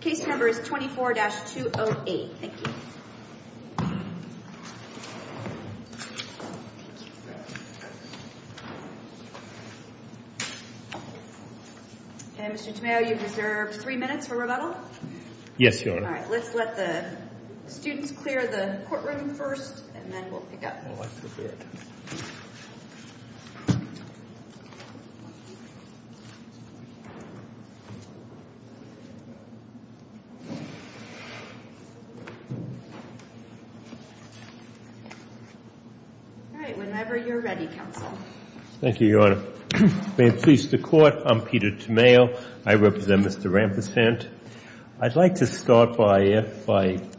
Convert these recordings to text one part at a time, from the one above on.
case number 24-208. Thank you. Mr. Tomeo, you have three minutes for rebuttal? Yes, Your Honor. All right. Let's let the students clear the courtroom first and then we'll pick up. All right. Whenever you're ready, counsel. Thank you, Your Honor. May it please the Court, I'm Peter Tomeo. I represent Mr. Rampersant. I'd like to start by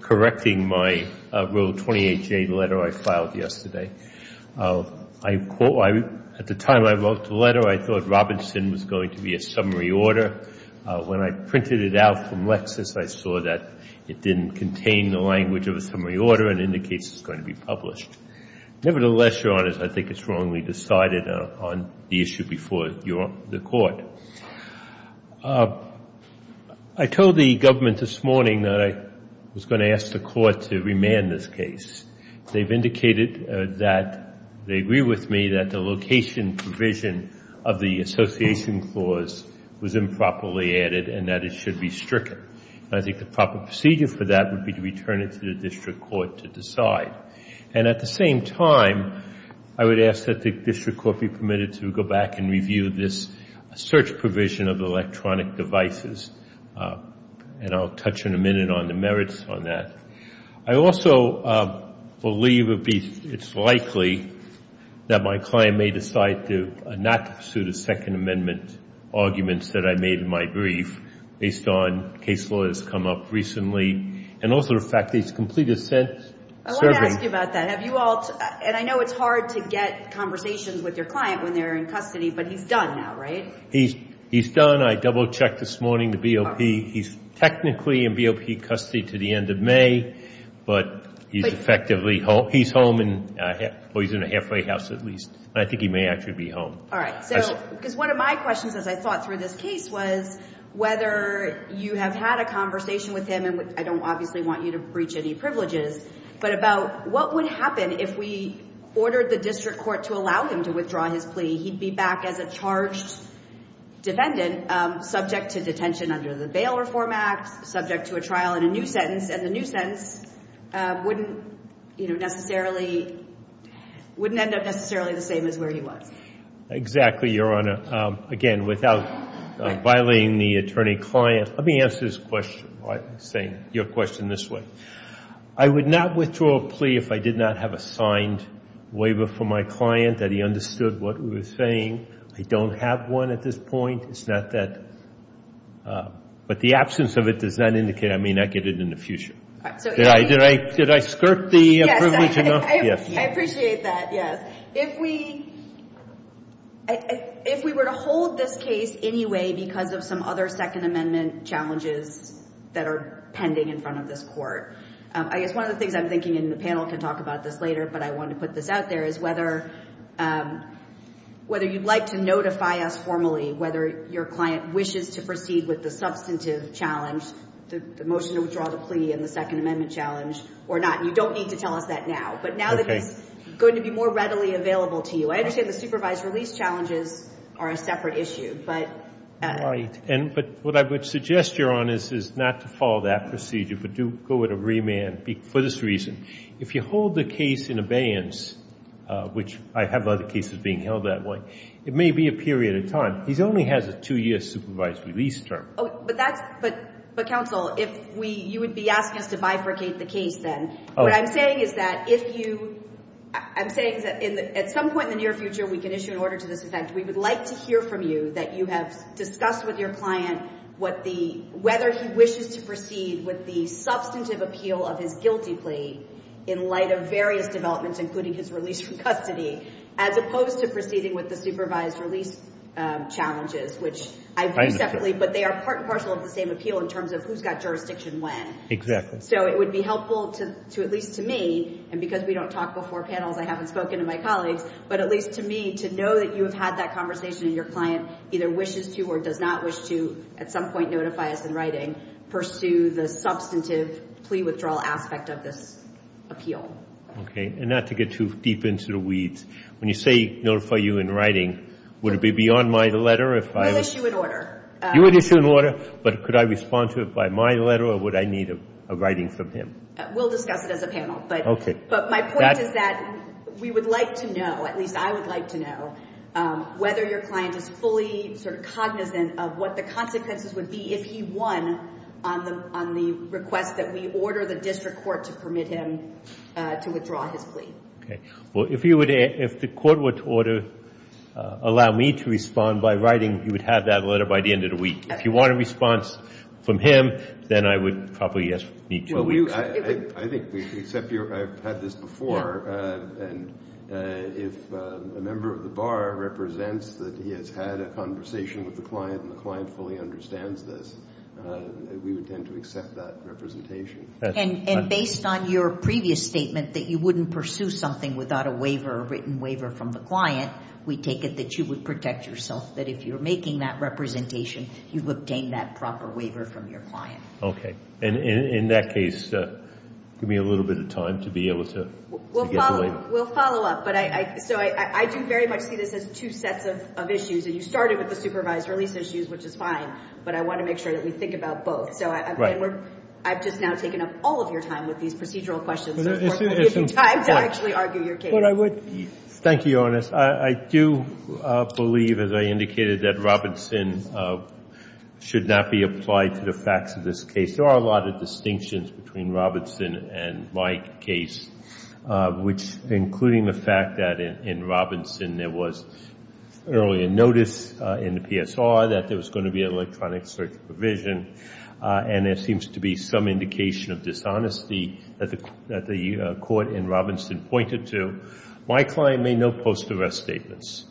correcting my Rule 28J letter I filed yesterday. I quote, at the time I wrote the letter, I thought Robinson was going to be a summary order. When I printed it out from Lexis, I saw that it didn't contain the language of a summary order and indicates it's going to be published. Nevertheless, Your Honors, I think it's wrongly decided on the issue before the Court. I told the government this morning that I was going to ask the Court to remand this case. They've indicated that they agree with me that the location provision of the association clause was improperly added and that it should be stricken. I think the proper procedure for that would be to return it to the district court to decide. And at the same time, I would ask that the district court be permitted to go back and review this search provision of electronic devices. And I'll touch in a minute on the merits on that. I also believe it's likely that my client may decide not to pursue the Second Amendment arguments that I made in my brief based on case law that's come up recently. I want to ask you about that. And I know it's hard to get conversations with your client when they're in custody, but he's done now, right? He's done. I double-checked this morning the BOP. He's technically in BOP custody to the end of May, but he's effectively home. He's home, or he's in a halfway house at least. I think he may actually be home. All right. Because one of my questions as I thought through this case was whether you have had a conversation with him, and I don't obviously want you to breach any privileges, but about what would happen if we ordered the district court to allow him to withdraw his plea? He'd be back as a charged defendant subject to detention under the Bail Reform Act, subject to a trial and a new sentence. And the new sentence wouldn't, you know, necessarily, wouldn't end up necessarily the same as where he was. Exactly, Your Honor. Again, without violating the attorney-client, let me answer this question. I'm saying your question this way. I would not withdraw a plea if I did not have a signed waiver from my client that he understood what we were saying. I don't have one at this point. It's not that. But the absence of it does not indicate I may not get it in the future. Did I skirt the privilege enough? Yes. I appreciate that. Yes. If we were to hold this case anyway because of some other Second Amendment challenges that are pending in front of this court, I guess one of the things I'm thinking, and the panel can talk about this later, but I wanted to put this out there, is whether you'd like to notify us formally whether your client wishes to proceed with the substantive challenge, the motion to withdraw the plea and the substantive challenge. The second amendment challenge or not. You don't need to tell us that now. But now that he's going to be more readily available to you. I understand the supervised release challenges are a separate issue. Right. But what I would suggest, Your Honor, is not to follow that procedure, but to go with a remand for this reason. If you hold the case in abeyance, which I have other cases being held that way, it may be a period of time. He only has a two-year supervised release term. But counsel, you would be asking us to bifurcate the case then. What I'm saying is that at some point in the near future, we can issue an order to this effect. We would like to hear from you that you have discussed with your client whether he wishes to proceed with the substantive appeal of his guilty plea in light of various developments, including his release from custody, as opposed to proceeding with the supervised release challenges, which I view separately. But they are part and parcel of the same appeal in terms of who's got jurisdiction when. Exactly. So it would be helpful to at least to me, and because we don't talk before panels, I haven't spoken to my colleagues, but at least to me to know that you have had that conversation and your client either wishes to or does not wish to at some point notify us in writing, pursue the substantive plea withdrawal aspect of this appeal. Okay. And not to get too deep into the weeds, when you say notify you in writing, would it be beyond my letter if I... We'll issue an order. You would issue an order, but could I respond to it by my letter or would I need a writing from him? We'll discuss it as a panel. Okay. But my point is that we would like to know, at least I would like to know, whether your client is fully sort of cognizant of what the consequences would be if he won on the request that we order the district court to permit him to withdraw his plea. Okay. Well, if you would, if the court were to order, allow me to respond by writing, you would have that letter by the end of the week. Okay. If you want a response from him, then I would probably need two weeks. I think, except I've had this before, and if a member of the bar represents that he has had a conversation with the client and the client fully understands this, we would tend to accept that representation. And based on your previous statement that you wouldn't pursue something without a waiver, a written waiver from the client, we take it that you would protect yourself, that if you're making that representation, you've obtained that proper waiver from your client. Okay. And in that case, give me a little bit of time to be able to get the waiver. We'll follow up. So I do very much see this as two sets of issues, and you started with the supervised release issues, which is fine, but I want to make sure that we think about both. Right. I've just now taken up all of your time with these procedural questions, so if you have time to actually argue your case. Thank you, Your Honor. I do believe, as I indicated, that Robinson should not be applied to the facts of this case. There are a lot of distinctions between Robinson and my case, including the fact that in Robinson there was earlier notice in the PSR that there was going to be an electronic search provision, and there seems to be some indication of dishonesty that the court in Robinson pointed to. My client made no post-arrest statements.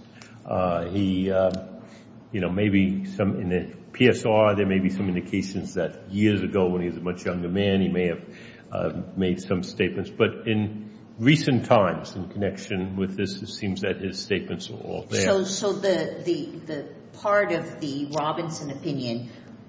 He, you know, maybe in the PSR there may be some indications that years ago, when he was a much younger man, he may have made some statements. But in recent times, in connection with this, it seems that his statements are all there. So the part of the Robinson opinion,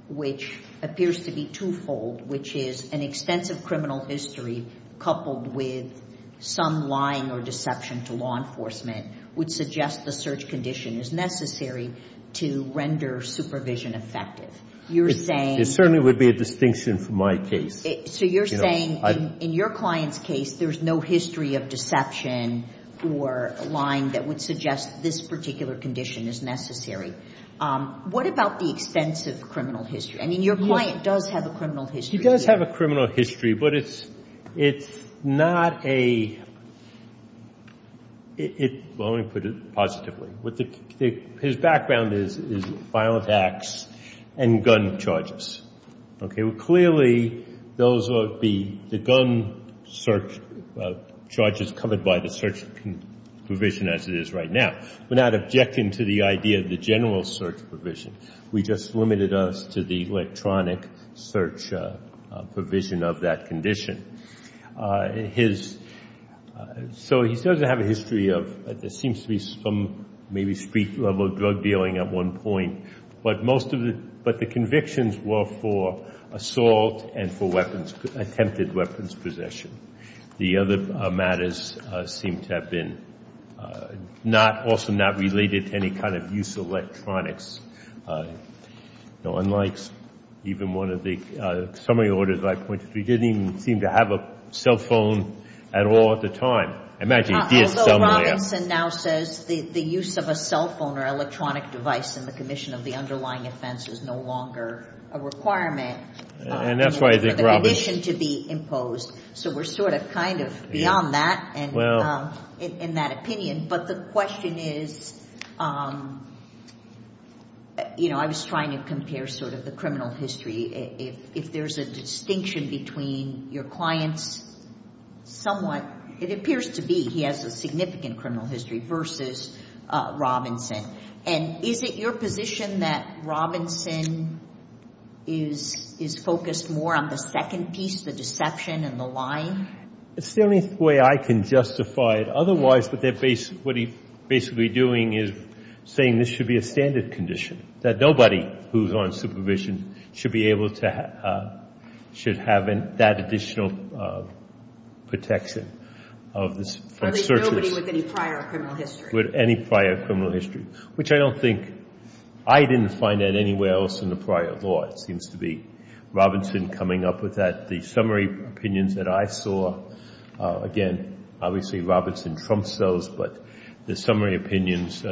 which appears to be twofold, which is an extensive criminal history coupled with some lying or deception to law enforcement, would suggest the search condition is necessary to render supervision effective. You're saying — It certainly would be a distinction for my case. So you're saying in your client's case there's no history of deception or lying that would suggest this particular condition is necessary. What about the extensive criminal history? I mean, your client does have a criminal history. He does have a criminal history, but it's not a — well, let me put it positively. His background is violent acts and gun charges. Okay. Well, clearly those are the gun search charges covered by the search provision as it is right now. We're not objecting to the idea of the general search provision. We just limited us to the electronic search provision of that condition. His — so he doesn't have a history of — there seems to be some maybe street-level drug dealing at one point. But most of the — but the convictions were for assault and for weapons — attempted weapons possession. The other matters seem to have been not — also not related to any kind of use of electronics. You know, unlike even one of the summary orders that I pointed to, he didn't even seem to have a cell phone at all at the time. I imagine he did somewhere. Robinson now says the use of a cell phone or electronic device in the commission of the underlying offense is no longer a requirement. And that's why I think Robbins — For the condition to be imposed. So we're sort of kind of beyond that in that opinion. But the question is, you know, I was trying to compare sort of the criminal history. If there's a distinction between your client's somewhat — it appears to be he has a significant criminal history versus Robinson. And is it your position that Robinson is focused more on the second piece, the deception and the lying? It's the only way I can justify it. Otherwise, what they're basically doing is saying this should be a standard condition, that nobody who's on supervision should be able to — should have that additional protection of the — Nobody with any prior criminal history. With any prior criminal history, which I don't think — I didn't find that anywhere else in the prior law. It seems to be Robinson coming up with that. The summary opinions that I saw, again, obviously Robinson trumps those, but the summary opinions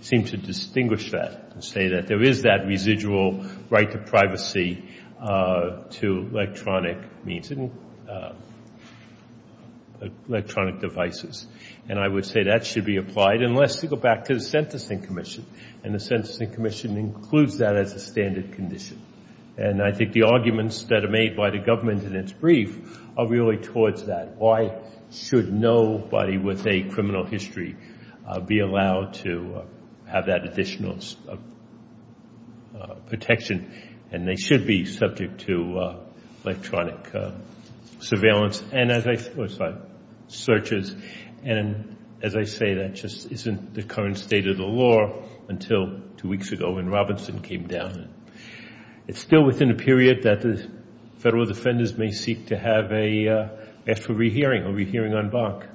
seem to distinguish that and say that there is that residual right to privacy to electronic means and electronic devices. And I would say that should be applied. And let's go back to the Sentencing Commission. And the Sentencing Commission includes that as a standard condition. And I think the arguments that are made by the government in its brief are really towards that. Why should nobody with a criminal history be allowed to have that additional protection? And they should be subject to electronic surveillance and as I — oh, sorry, searches. And as I say, that just isn't the current state of the law until two weeks ago when Robinson came down. It's still within a period that the federal defenders may seek to have a — ask for a re-hearing, a re-hearing on Bach.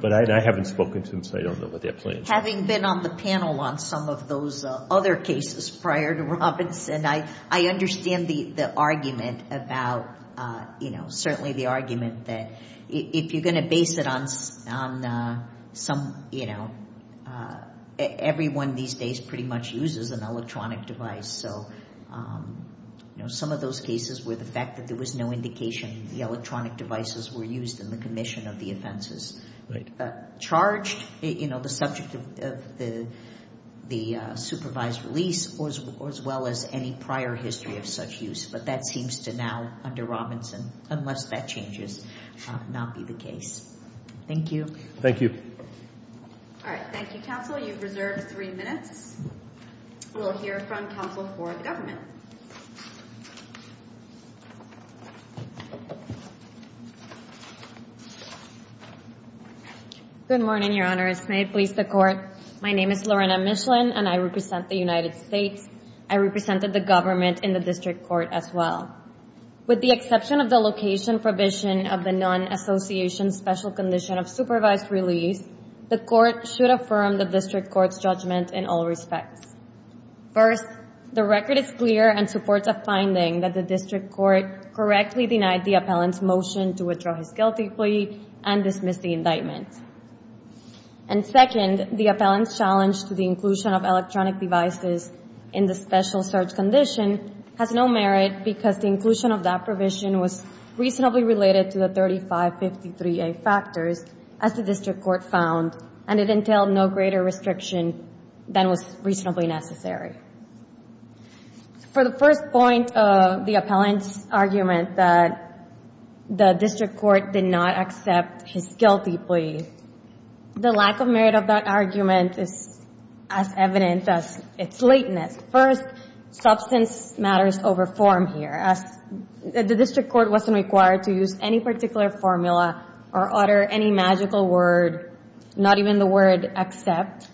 But I haven't spoken to them, so I don't know what their plans are. Having been on the panel on some of those other cases prior to Robinson, I understand the argument about, you know, certainly the argument that if you're going to base it on some, you know — everyone these days pretty much uses an electronic device. So, you know, some of those cases were the fact that there was no indication the electronic devices were used in the commission of the offenses. Right. Charged, you know, the subject of the supervised release as well as any prior history of such use. But that seems to now, under Robinson, unless that changes, not be the case. Thank you. Thank you. All right. Thank you, counsel. You've reserved three minutes. We'll hear from counsel for the government. Good morning, Your Honors. May it please the Court. My name is Lorena Michelin, and I represent the United States. I represented the government in the district court as well. With the exception of the location provision of the non-association special condition of supervised release, the Court should affirm the district court's judgment in all respects. First, the record is clear and supports a finding that the district court correctly denied the appellant's motion to withdraw his guilty plea and dismiss the indictment. And second, the appellant's challenge to the inclusion of electronic devices in the special search condition has no merit because the inclusion of that provision was reasonably related to the 3553A factors, as the district court found, and it entailed no greater restriction than was reasonably necessary. For the first point, the appellant's argument that the district court did not accept his guilty plea, the lack of merit of that argument is as evident as its lateness. First, substance matters over form here. The district court wasn't required to use any particular formula or utter any magical word, not even the word accept.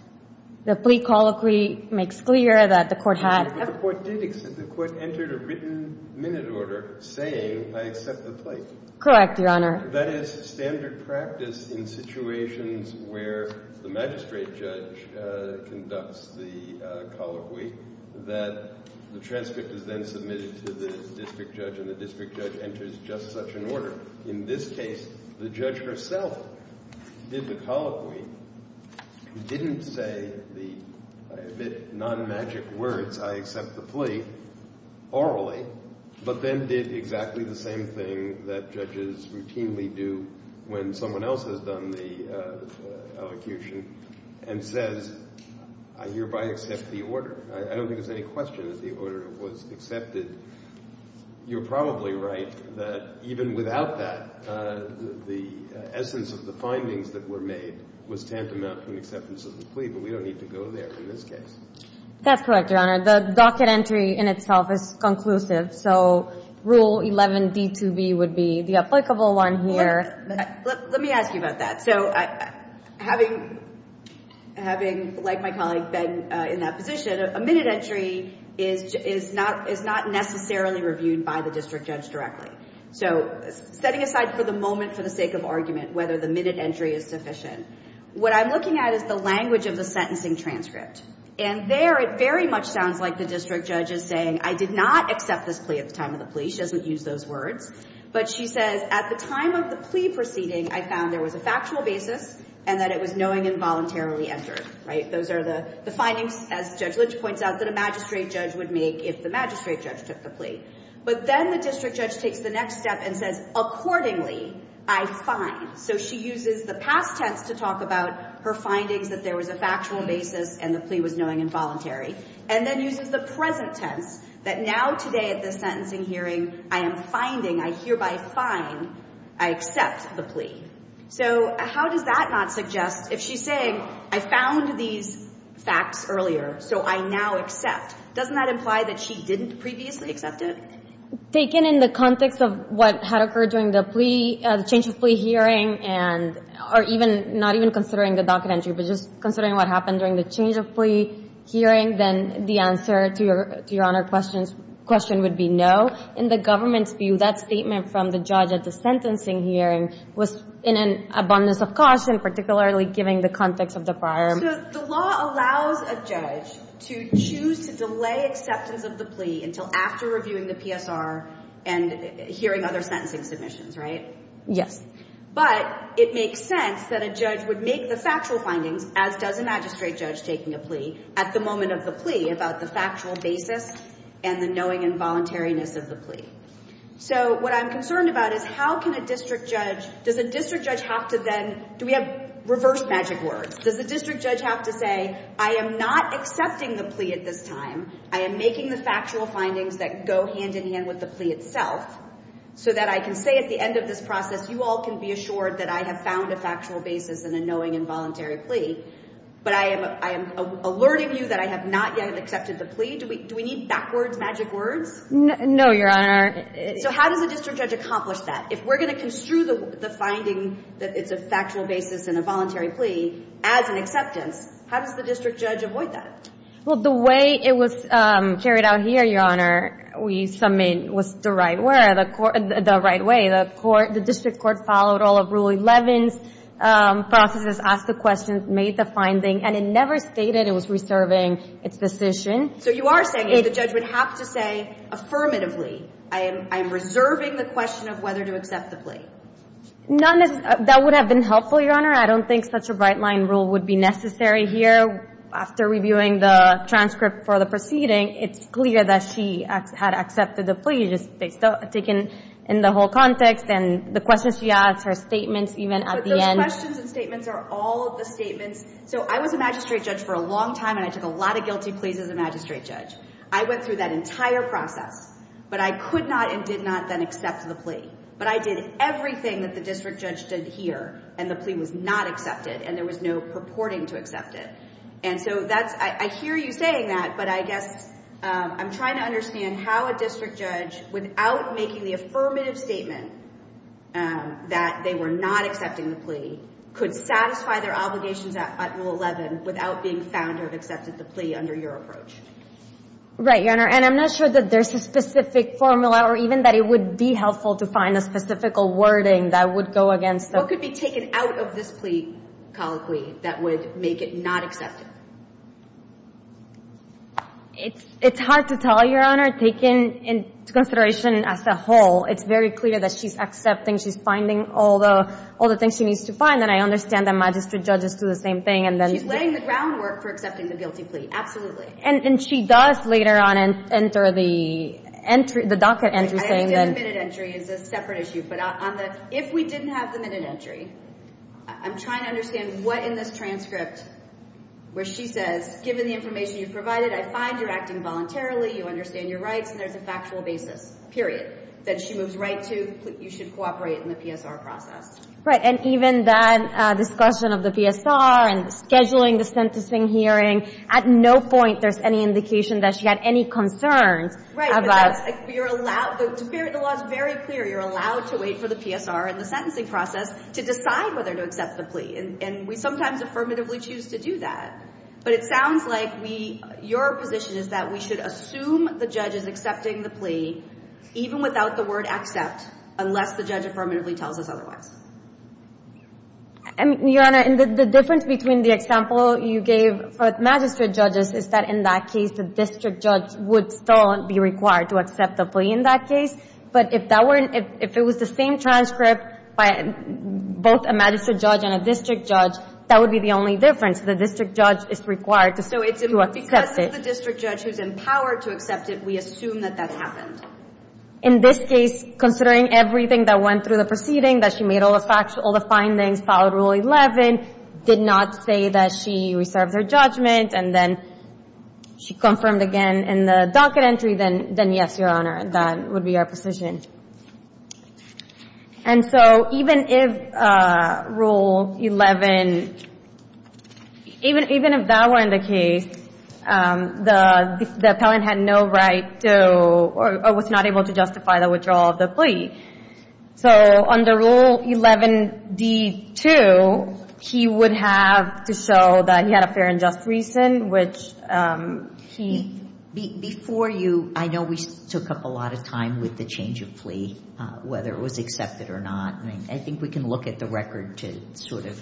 The plea colloquy makes clear that the court had. But the court did accept. The court entered a written minute order saying, I accept the plea. Correct, Your Honor. That is standard practice in situations where the magistrate judge conducts the colloquy, that the transcript is then submitted to the district judge and the district judge enters just such an order. In this case, the judge herself did the colloquy, didn't say the nonmagic words, I accept the plea, orally, but then did exactly the same thing that judges routinely do when someone else has done the elocution and says, I hereby accept the order. I don't think there's any question that the order was accepted. You're probably right that even without that, the essence of the findings that were made was tantamount to an acceptance of the plea, but we don't need to go there in this case. That's correct, Your Honor. The docket entry in itself is conclusive, so Rule 11b2b would be the applicable one here. Let me ask you about that. So having, like my colleague, been in that position, a minute entry is not necessarily reviewed by the district judge directly. So setting aside for the moment for the sake of argument whether the minute entry is sufficient, what I'm looking at is the language of the sentencing transcript. And there it very much sounds like the district judge is saying, I did not accept this plea at the time of the plea. She doesn't use those words. But she says, at the time of the plea proceeding, I found there was a factual basis and that it was knowing involuntarily entered. Those are the findings, as Judge Lynch points out, that a magistrate judge would make if the magistrate judge took the plea. But then the district judge takes the next step and says, accordingly, I find. So she uses the past tense to talk about her findings that there was a factual basis and the plea was knowing involuntary, and then uses the present tense, that now today at this sentencing hearing, I am finding, I hereby find, I accept the plea. So how does that not suggest, if she's saying, I found these facts earlier, so I now accept, doesn't that imply that she didn't previously accept it? If taken in the context of what had occurred during the change of plea hearing, or not even considering the docket entry, but just considering what happened during the change of plea hearing, then the answer to Your Honor's question would be no. In the government's view, that statement from the judge at the sentencing hearing was in an abundance of caution, particularly given the context of the prior. So the law allows a judge to choose to delay acceptance of the plea until after reviewing the PSR and hearing other sentencing submissions, right? Yes. But it makes sense that a judge would make the factual findings, as does a magistrate judge taking a plea, at the moment of the plea, about the factual basis and the knowing involuntariness of the plea. So what I'm concerned about is how can a district judge, does a district judge have to then, do we have reverse magic words? Does the district judge have to say, I am not accepting the plea at this time, I am making the factual findings that go hand in hand with the plea itself, so that I can say at the end of this process, you all can be assured that I have found a factual basis in a knowing involuntary plea, but I am alerting you that I have not yet accepted the plea? Do we need backwards magic words? No, Your Honor. So how does a district judge accomplish that? If we're going to construe the finding that it's a factual basis in a voluntary plea as an acceptance, how does the district judge avoid that? Well, the way it was carried out here, Your Honor, we submit was the right way. The district court followed all of Rule 11's processes, asked the questions, made the finding, and it never stated it was reserving its decision. So you are saying that the judge would have to say affirmatively, I am reserving the question of whether to accept the plea? That would have been helpful, Your Honor. I don't think such a bright-line rule would be necessary here. After reviewing the transcript for the proceeding, it's clear that she had accepted the plea, just taken in the whole context and the questions she asked, her statements even at the end. But those questions and statements are all of the statements. So I was a magistrate judge for a long time, and I took a lot of guilty pleas as a magistrate judge. I went through that entire process, but I could not and did not then accept the plea. But I did everything that the district judge did here, and the plea was not accepted, and there was no purporting to accept it. And so I hear you saying that, but I guess I'm trying to understand how a district judge, without making the affirmative statement that they were not accepting the plea, could satisfy their obligations at Rule 11 without being found to have accepted the plea under your approach. Right, Your Honor, and I'm not sure that there's a specific formula or even that it would be helpful to find a specific wording that would go against the rule. What could be taken out of this plea colloquy that would make it not accepted? It's hard to tell, Your Honor. Taken into consideration as a whole, it's very clear that she's accepting, she's finding all the things she needs to find, and I understand that magistrate judges do the same thing. She's laying the groundwork for accepting the guilty plea, absolutely. And she does later on enter the entry, the docket entry. I think the admitted entry is a separate issue, but if we didn't have the admitted entry, I'm trying to understand what in this transcript where she says, given the information you provided, I find you're acting voluntarily, you understand your rights, and there's a factual basis, period, that she moves right to, you should cooperate in the PSR process. Right, and even that discussion of the PSR and scheduling the sentencing hearing, at no point there's any indication that she had any concerns about... Right, but the law is very clear. You're allowed to wait for the PSR and the sentencing process to decide whether to accept the plea, and we sometimes affirmatively choose to do that. But it sounds like your position is that we should assume the judge is accepting the plea even without the word accept, unless the judge affirmatively tells us otherwise. Your Honor, the difference between the example you gave for magistrate judges is that in that case the district judge would still be required to accept the plea in that case. But if it was the same transcript by both a magistrate judge and a district judge, that would be the only difference. The district judge is required to accept it. Because it's the district judge who's empowered to accept it, we assume that that happened. In this case, considering everything that went through the proceeding, that she made all the findings, followed Rule 11, did not say that she reserved her judgment, and then she confirmed again in the docket entry, then yes, Your Honor, that would be our position. And so even if Rule 11, even if that weren't the case, the appellant had no right to or was not able to justify the withdrawal of the plea. So under Rule 11d2, he would have to show that he had a fair and just reason, which he... Before you, I know we took up a lot of time with the change of plea, whether it was accepted or not. I think we can look at the record to sort of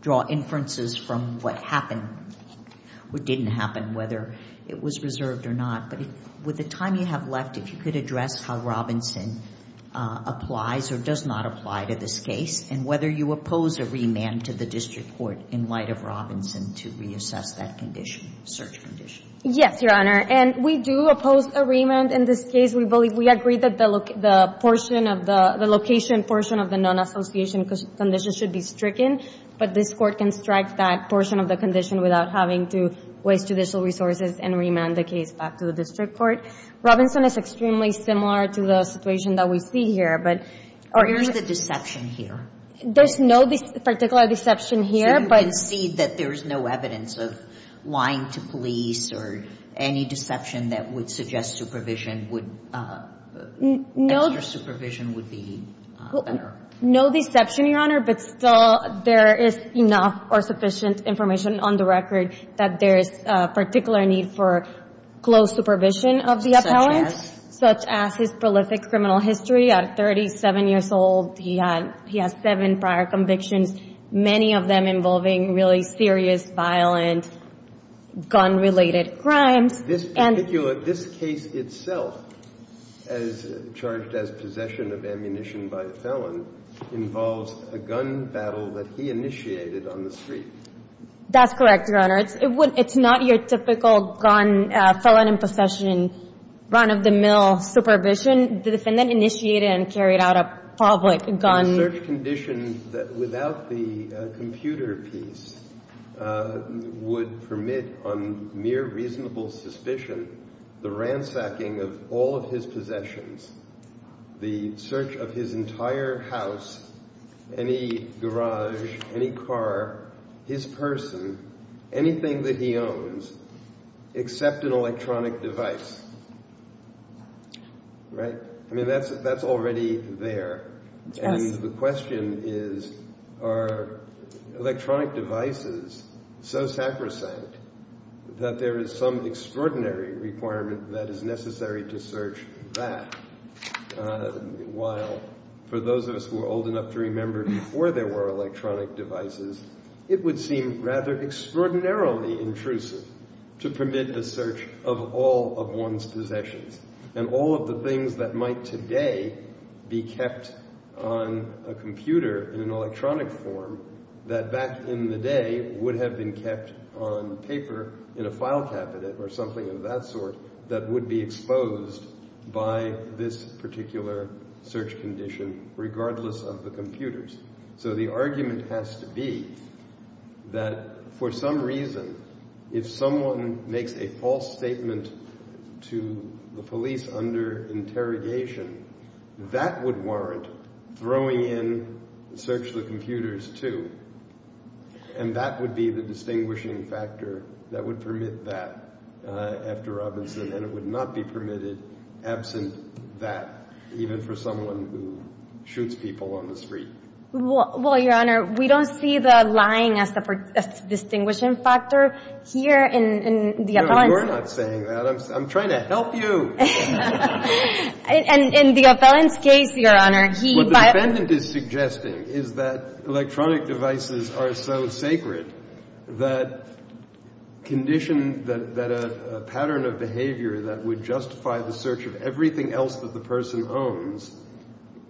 draw inferences from what happened or didn't happen, whether it was reserved or not. But with the time you have left, if you could address how Robinson applies or does not apply to this case and whether you oppose a remand to the district court in light of Robinson to reassess that condition, search condition. Yes, Your Honor. And we do oppose a remand in this case. We agree that the location portion of the non-association condition should be stricken, but this court can strike that portion of the condition without having to waste judicial resources and remand the case back to the district court. Robinson is extremely similar to the situation that we see here, but... Where is the deception here? There's no particular deception here, but... So you concede that there is no evidence of lying to police or any deception that would suggest extra supervision would be better? No deception, Your Honor, but still there is enough or sufficient information on the record that there is a particular need for close supervision of the appellant... Such as? ...as well as his prolific criminal history. At 37 years old, he has seven prior convictions, many of them involving really serious, violent, gun-related crimes. This case itself, as charged as possession of ammunition by a felon, involves a gun battle that he initiated on the street. That's correct, Your Honor. It's not your typical gun, felon in possession, run-of-the-mill supervision. The defendant initiated and carried out a public gun... The search condition without the computer piece would permit, on mere reasonable suspicion, the ransacking of all of his possessions, the search of his entire house, any garage, any car, his person, anything that he owns, except an electronic device. Right? I mean, that's already there. And the question is, are electronic devices so sacrosanct that there is some extraordinary requirement that is necessary to search that? While for those of us who are old enough to remember before there were electronic devices, it would seem rather extraordinarily intrusive to permit the search of all of one's possessions and all of the things that might today be kept on a computer in an electronic form that back in the day would have been kept on paper in a file cabinet or something of that sort that would be exposed by this particular search condition regardless of the computers. So the argument has to be that for some reason, if someone makes a false statement to the police under interrogation, that would warrant throwing in the search of the computers too. And that would be the distinguishing factor that would permit that after Robinson, and it would not be permitted absent that, even for someone who shoots people on the street. Well, Your Honor, we don't see the lying as the distinguishing factor here in the appellants. No, you're not saying that. I'm trying to help you. In the appellant's case, Your Honor, he by… What he is suggesting is that electronic devices are so sacred that a pattern of behavior that would justify the search of everything else that the person owns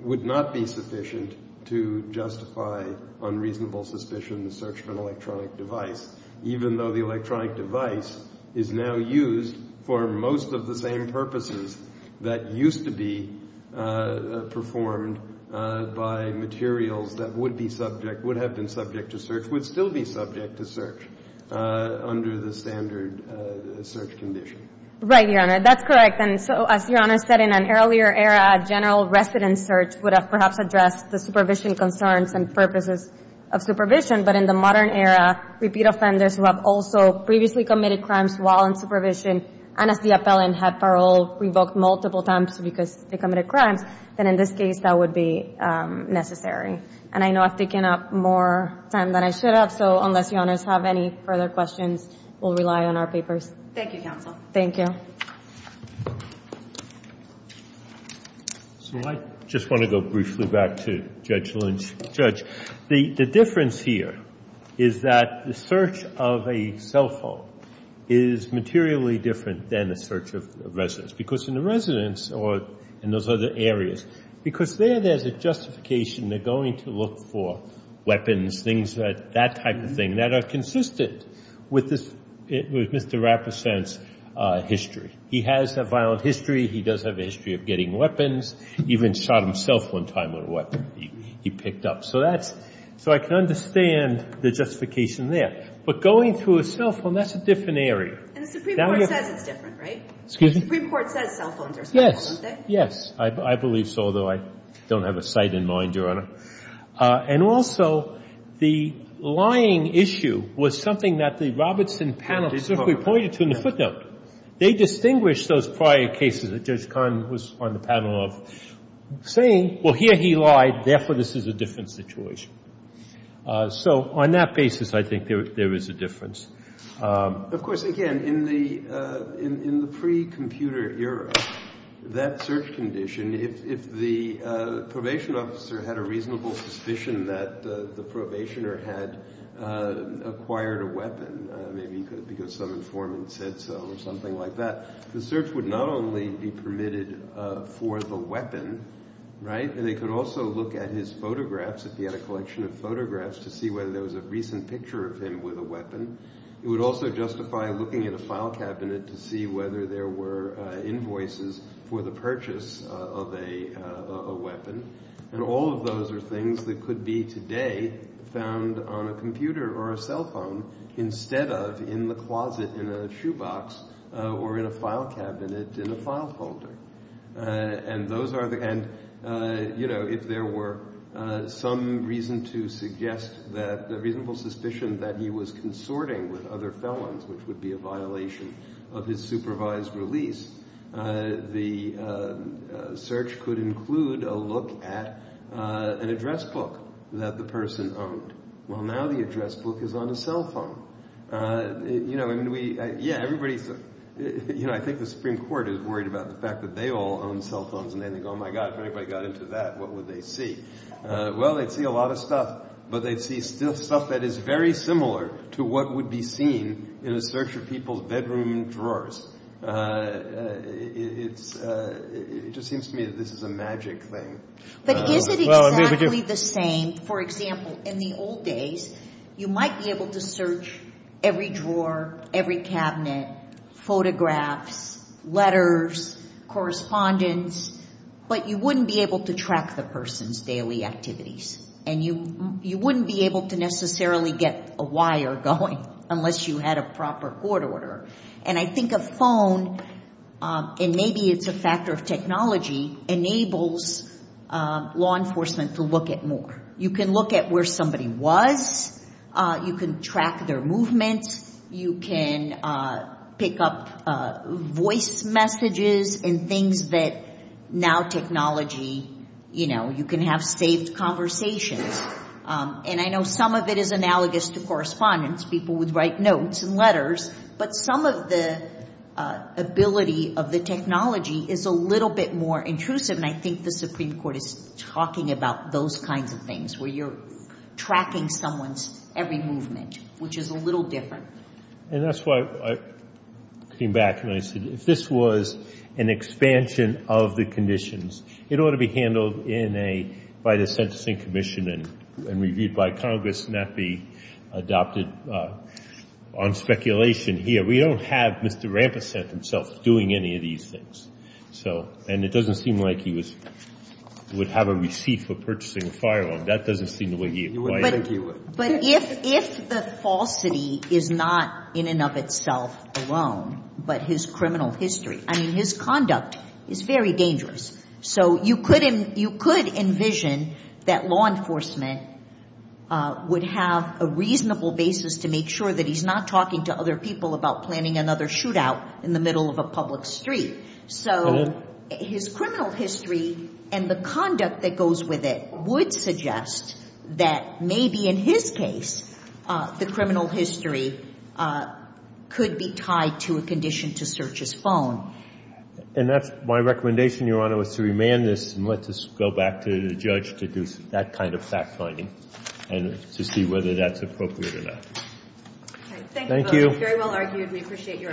would not be sufficient to justify unreasonable suspicion in the search for an electronic device, even though the electronic device is now used for most of the same purposes that used to be performed by materials that would be subject, would have been subject to search, would still be subject to search under the standard search condition. Right, Your Honor. That's correct. And so, as Your Honor said, in an earlier era, general residence search would have perhaps addressed the supervision concerns and purposes of supervision. But in the modern era, repeat offenders who have also previously committed crimes while in supervision and as the appellant had parole revoked multiple times because they committed crimes, then in this case that would be necessary. And I know I've taken up more time than I should have, so unless Your Honors have any further questions, we'll rely on our papers. Thank you, counsel. Thank you. So I just want to go briefly back to Judge Lynch. The difference here is that the search of a cell phone is materially different than the search of residence. Because in the residence or in those other areas, because there there's a justification they're going to look for weapons, things that, that type of thing, that are consistent with Mr. Rappesant's history. He has a violent history. He does have a history of getting weapons, even shot himself one time with a weapon. He picked up. So that's, so I can understand the justification there. But going through a cell phone, that's a different area. And the Supreme Court says it's different, right? Excuse me? The Supreme Court says cell phones are special, don't they? Yes, yes. I believe so, although I don't have a site in mind, Your Honor. And also, the lying issue was something that the Robertson panel specifically pointed to in the footnote. They distinguished those prior cases that Judge Kahn was on the panel of saying, well, here he lied, therefore this is a different situation. So on that basis, I think there is a difference. Of course, again, in the pre-computer era, that search condition, if the probation officer had a reasonable suspicion that the probationer had acquired a weapon, maybe because some informant said so or something like that, the search would not only be permitted for the weapon, right? And they could also look at his photographs, if he had a collection of photographs, to see whether there was a recent picture of him with a weapon. It would also justify looking at a file cabinet to see whether there were invoices for the purchase of a weapon. And all of those are things that could be today found on a computer or a cell phone instead of in the closet in a shoebox or in a file cabinet in a file holder. And those are the – and, you know, if there were some reason to suggest that – a reasonable suspicion that he was consorting with other felons, which would be a violation of his supervised release, the search could include a look at an address book that the person owned. Well, now the address book is on a cell phone. You know, and we – yeah, everybody – you know, I think the Supreme Court is worried about the fact that they all own cell phones and they think, oh, my God, if anybody got into that, what would they see? Well, they'd see a lot of stuff, but they'd see still stuff that is very similar to what would be seen in a search of people's bedroom drawers. It's – it just seems to me that this is a magic thing. But is it exactly the same – for example, in the old days, you might be able to search every drawer, every cabinet, photographs, letters, correspondence, but you wouldn't be able to track the person's daily activities and you wouldn't be able to necessarily get a wire going unless you had a proper court order. And I think a phone, and maybe it's a factor of technology, enables law enforcement to look at more. You can look at where somebody was. You can track their movements. You can pick up voice messages and things that now technology – you know, you can have safe conversations. And I know some of it is analogous to correspondence. People would write notes and letters. But some of the ability of the technology is a little bit more intrusive, and I think the Supreme Court is talking about those kinds of things, where you're tracking someone's every movement, which is a little different. And that's why I came back and I said, if this was an expansion of the conditions, it ought to be handled in a – by the Sentencing Commission and reviewed by Congress and not be adopted on speculation here. We don't have Mr. Rampersant himself doing any of these things. So – and it doesn't seem like he was – would have a receipt for purchasing a firearm. That doesn't seem the way he – You wouldn't think he would. But if the falsity is not in and of itself alone, but his criminal history – I mean, his conduct is very dangerous. So you could – you could envision that law enforcement would have a reasonable basis to make sure that he's not talking to other people about planning another shootout in the middle of a public street. So his criminal history and the conduct that goes with it would suggest that maybe, in his case, the criminal history could be tied to a condition to search his phone. And that's my recommendation, Your Honor, was to remand this and let this go back to the judge to do that kind of fact-finding and to see whether that's appropriate or not. Okay. Thank you. It's very well argued. We appreciate your arguments.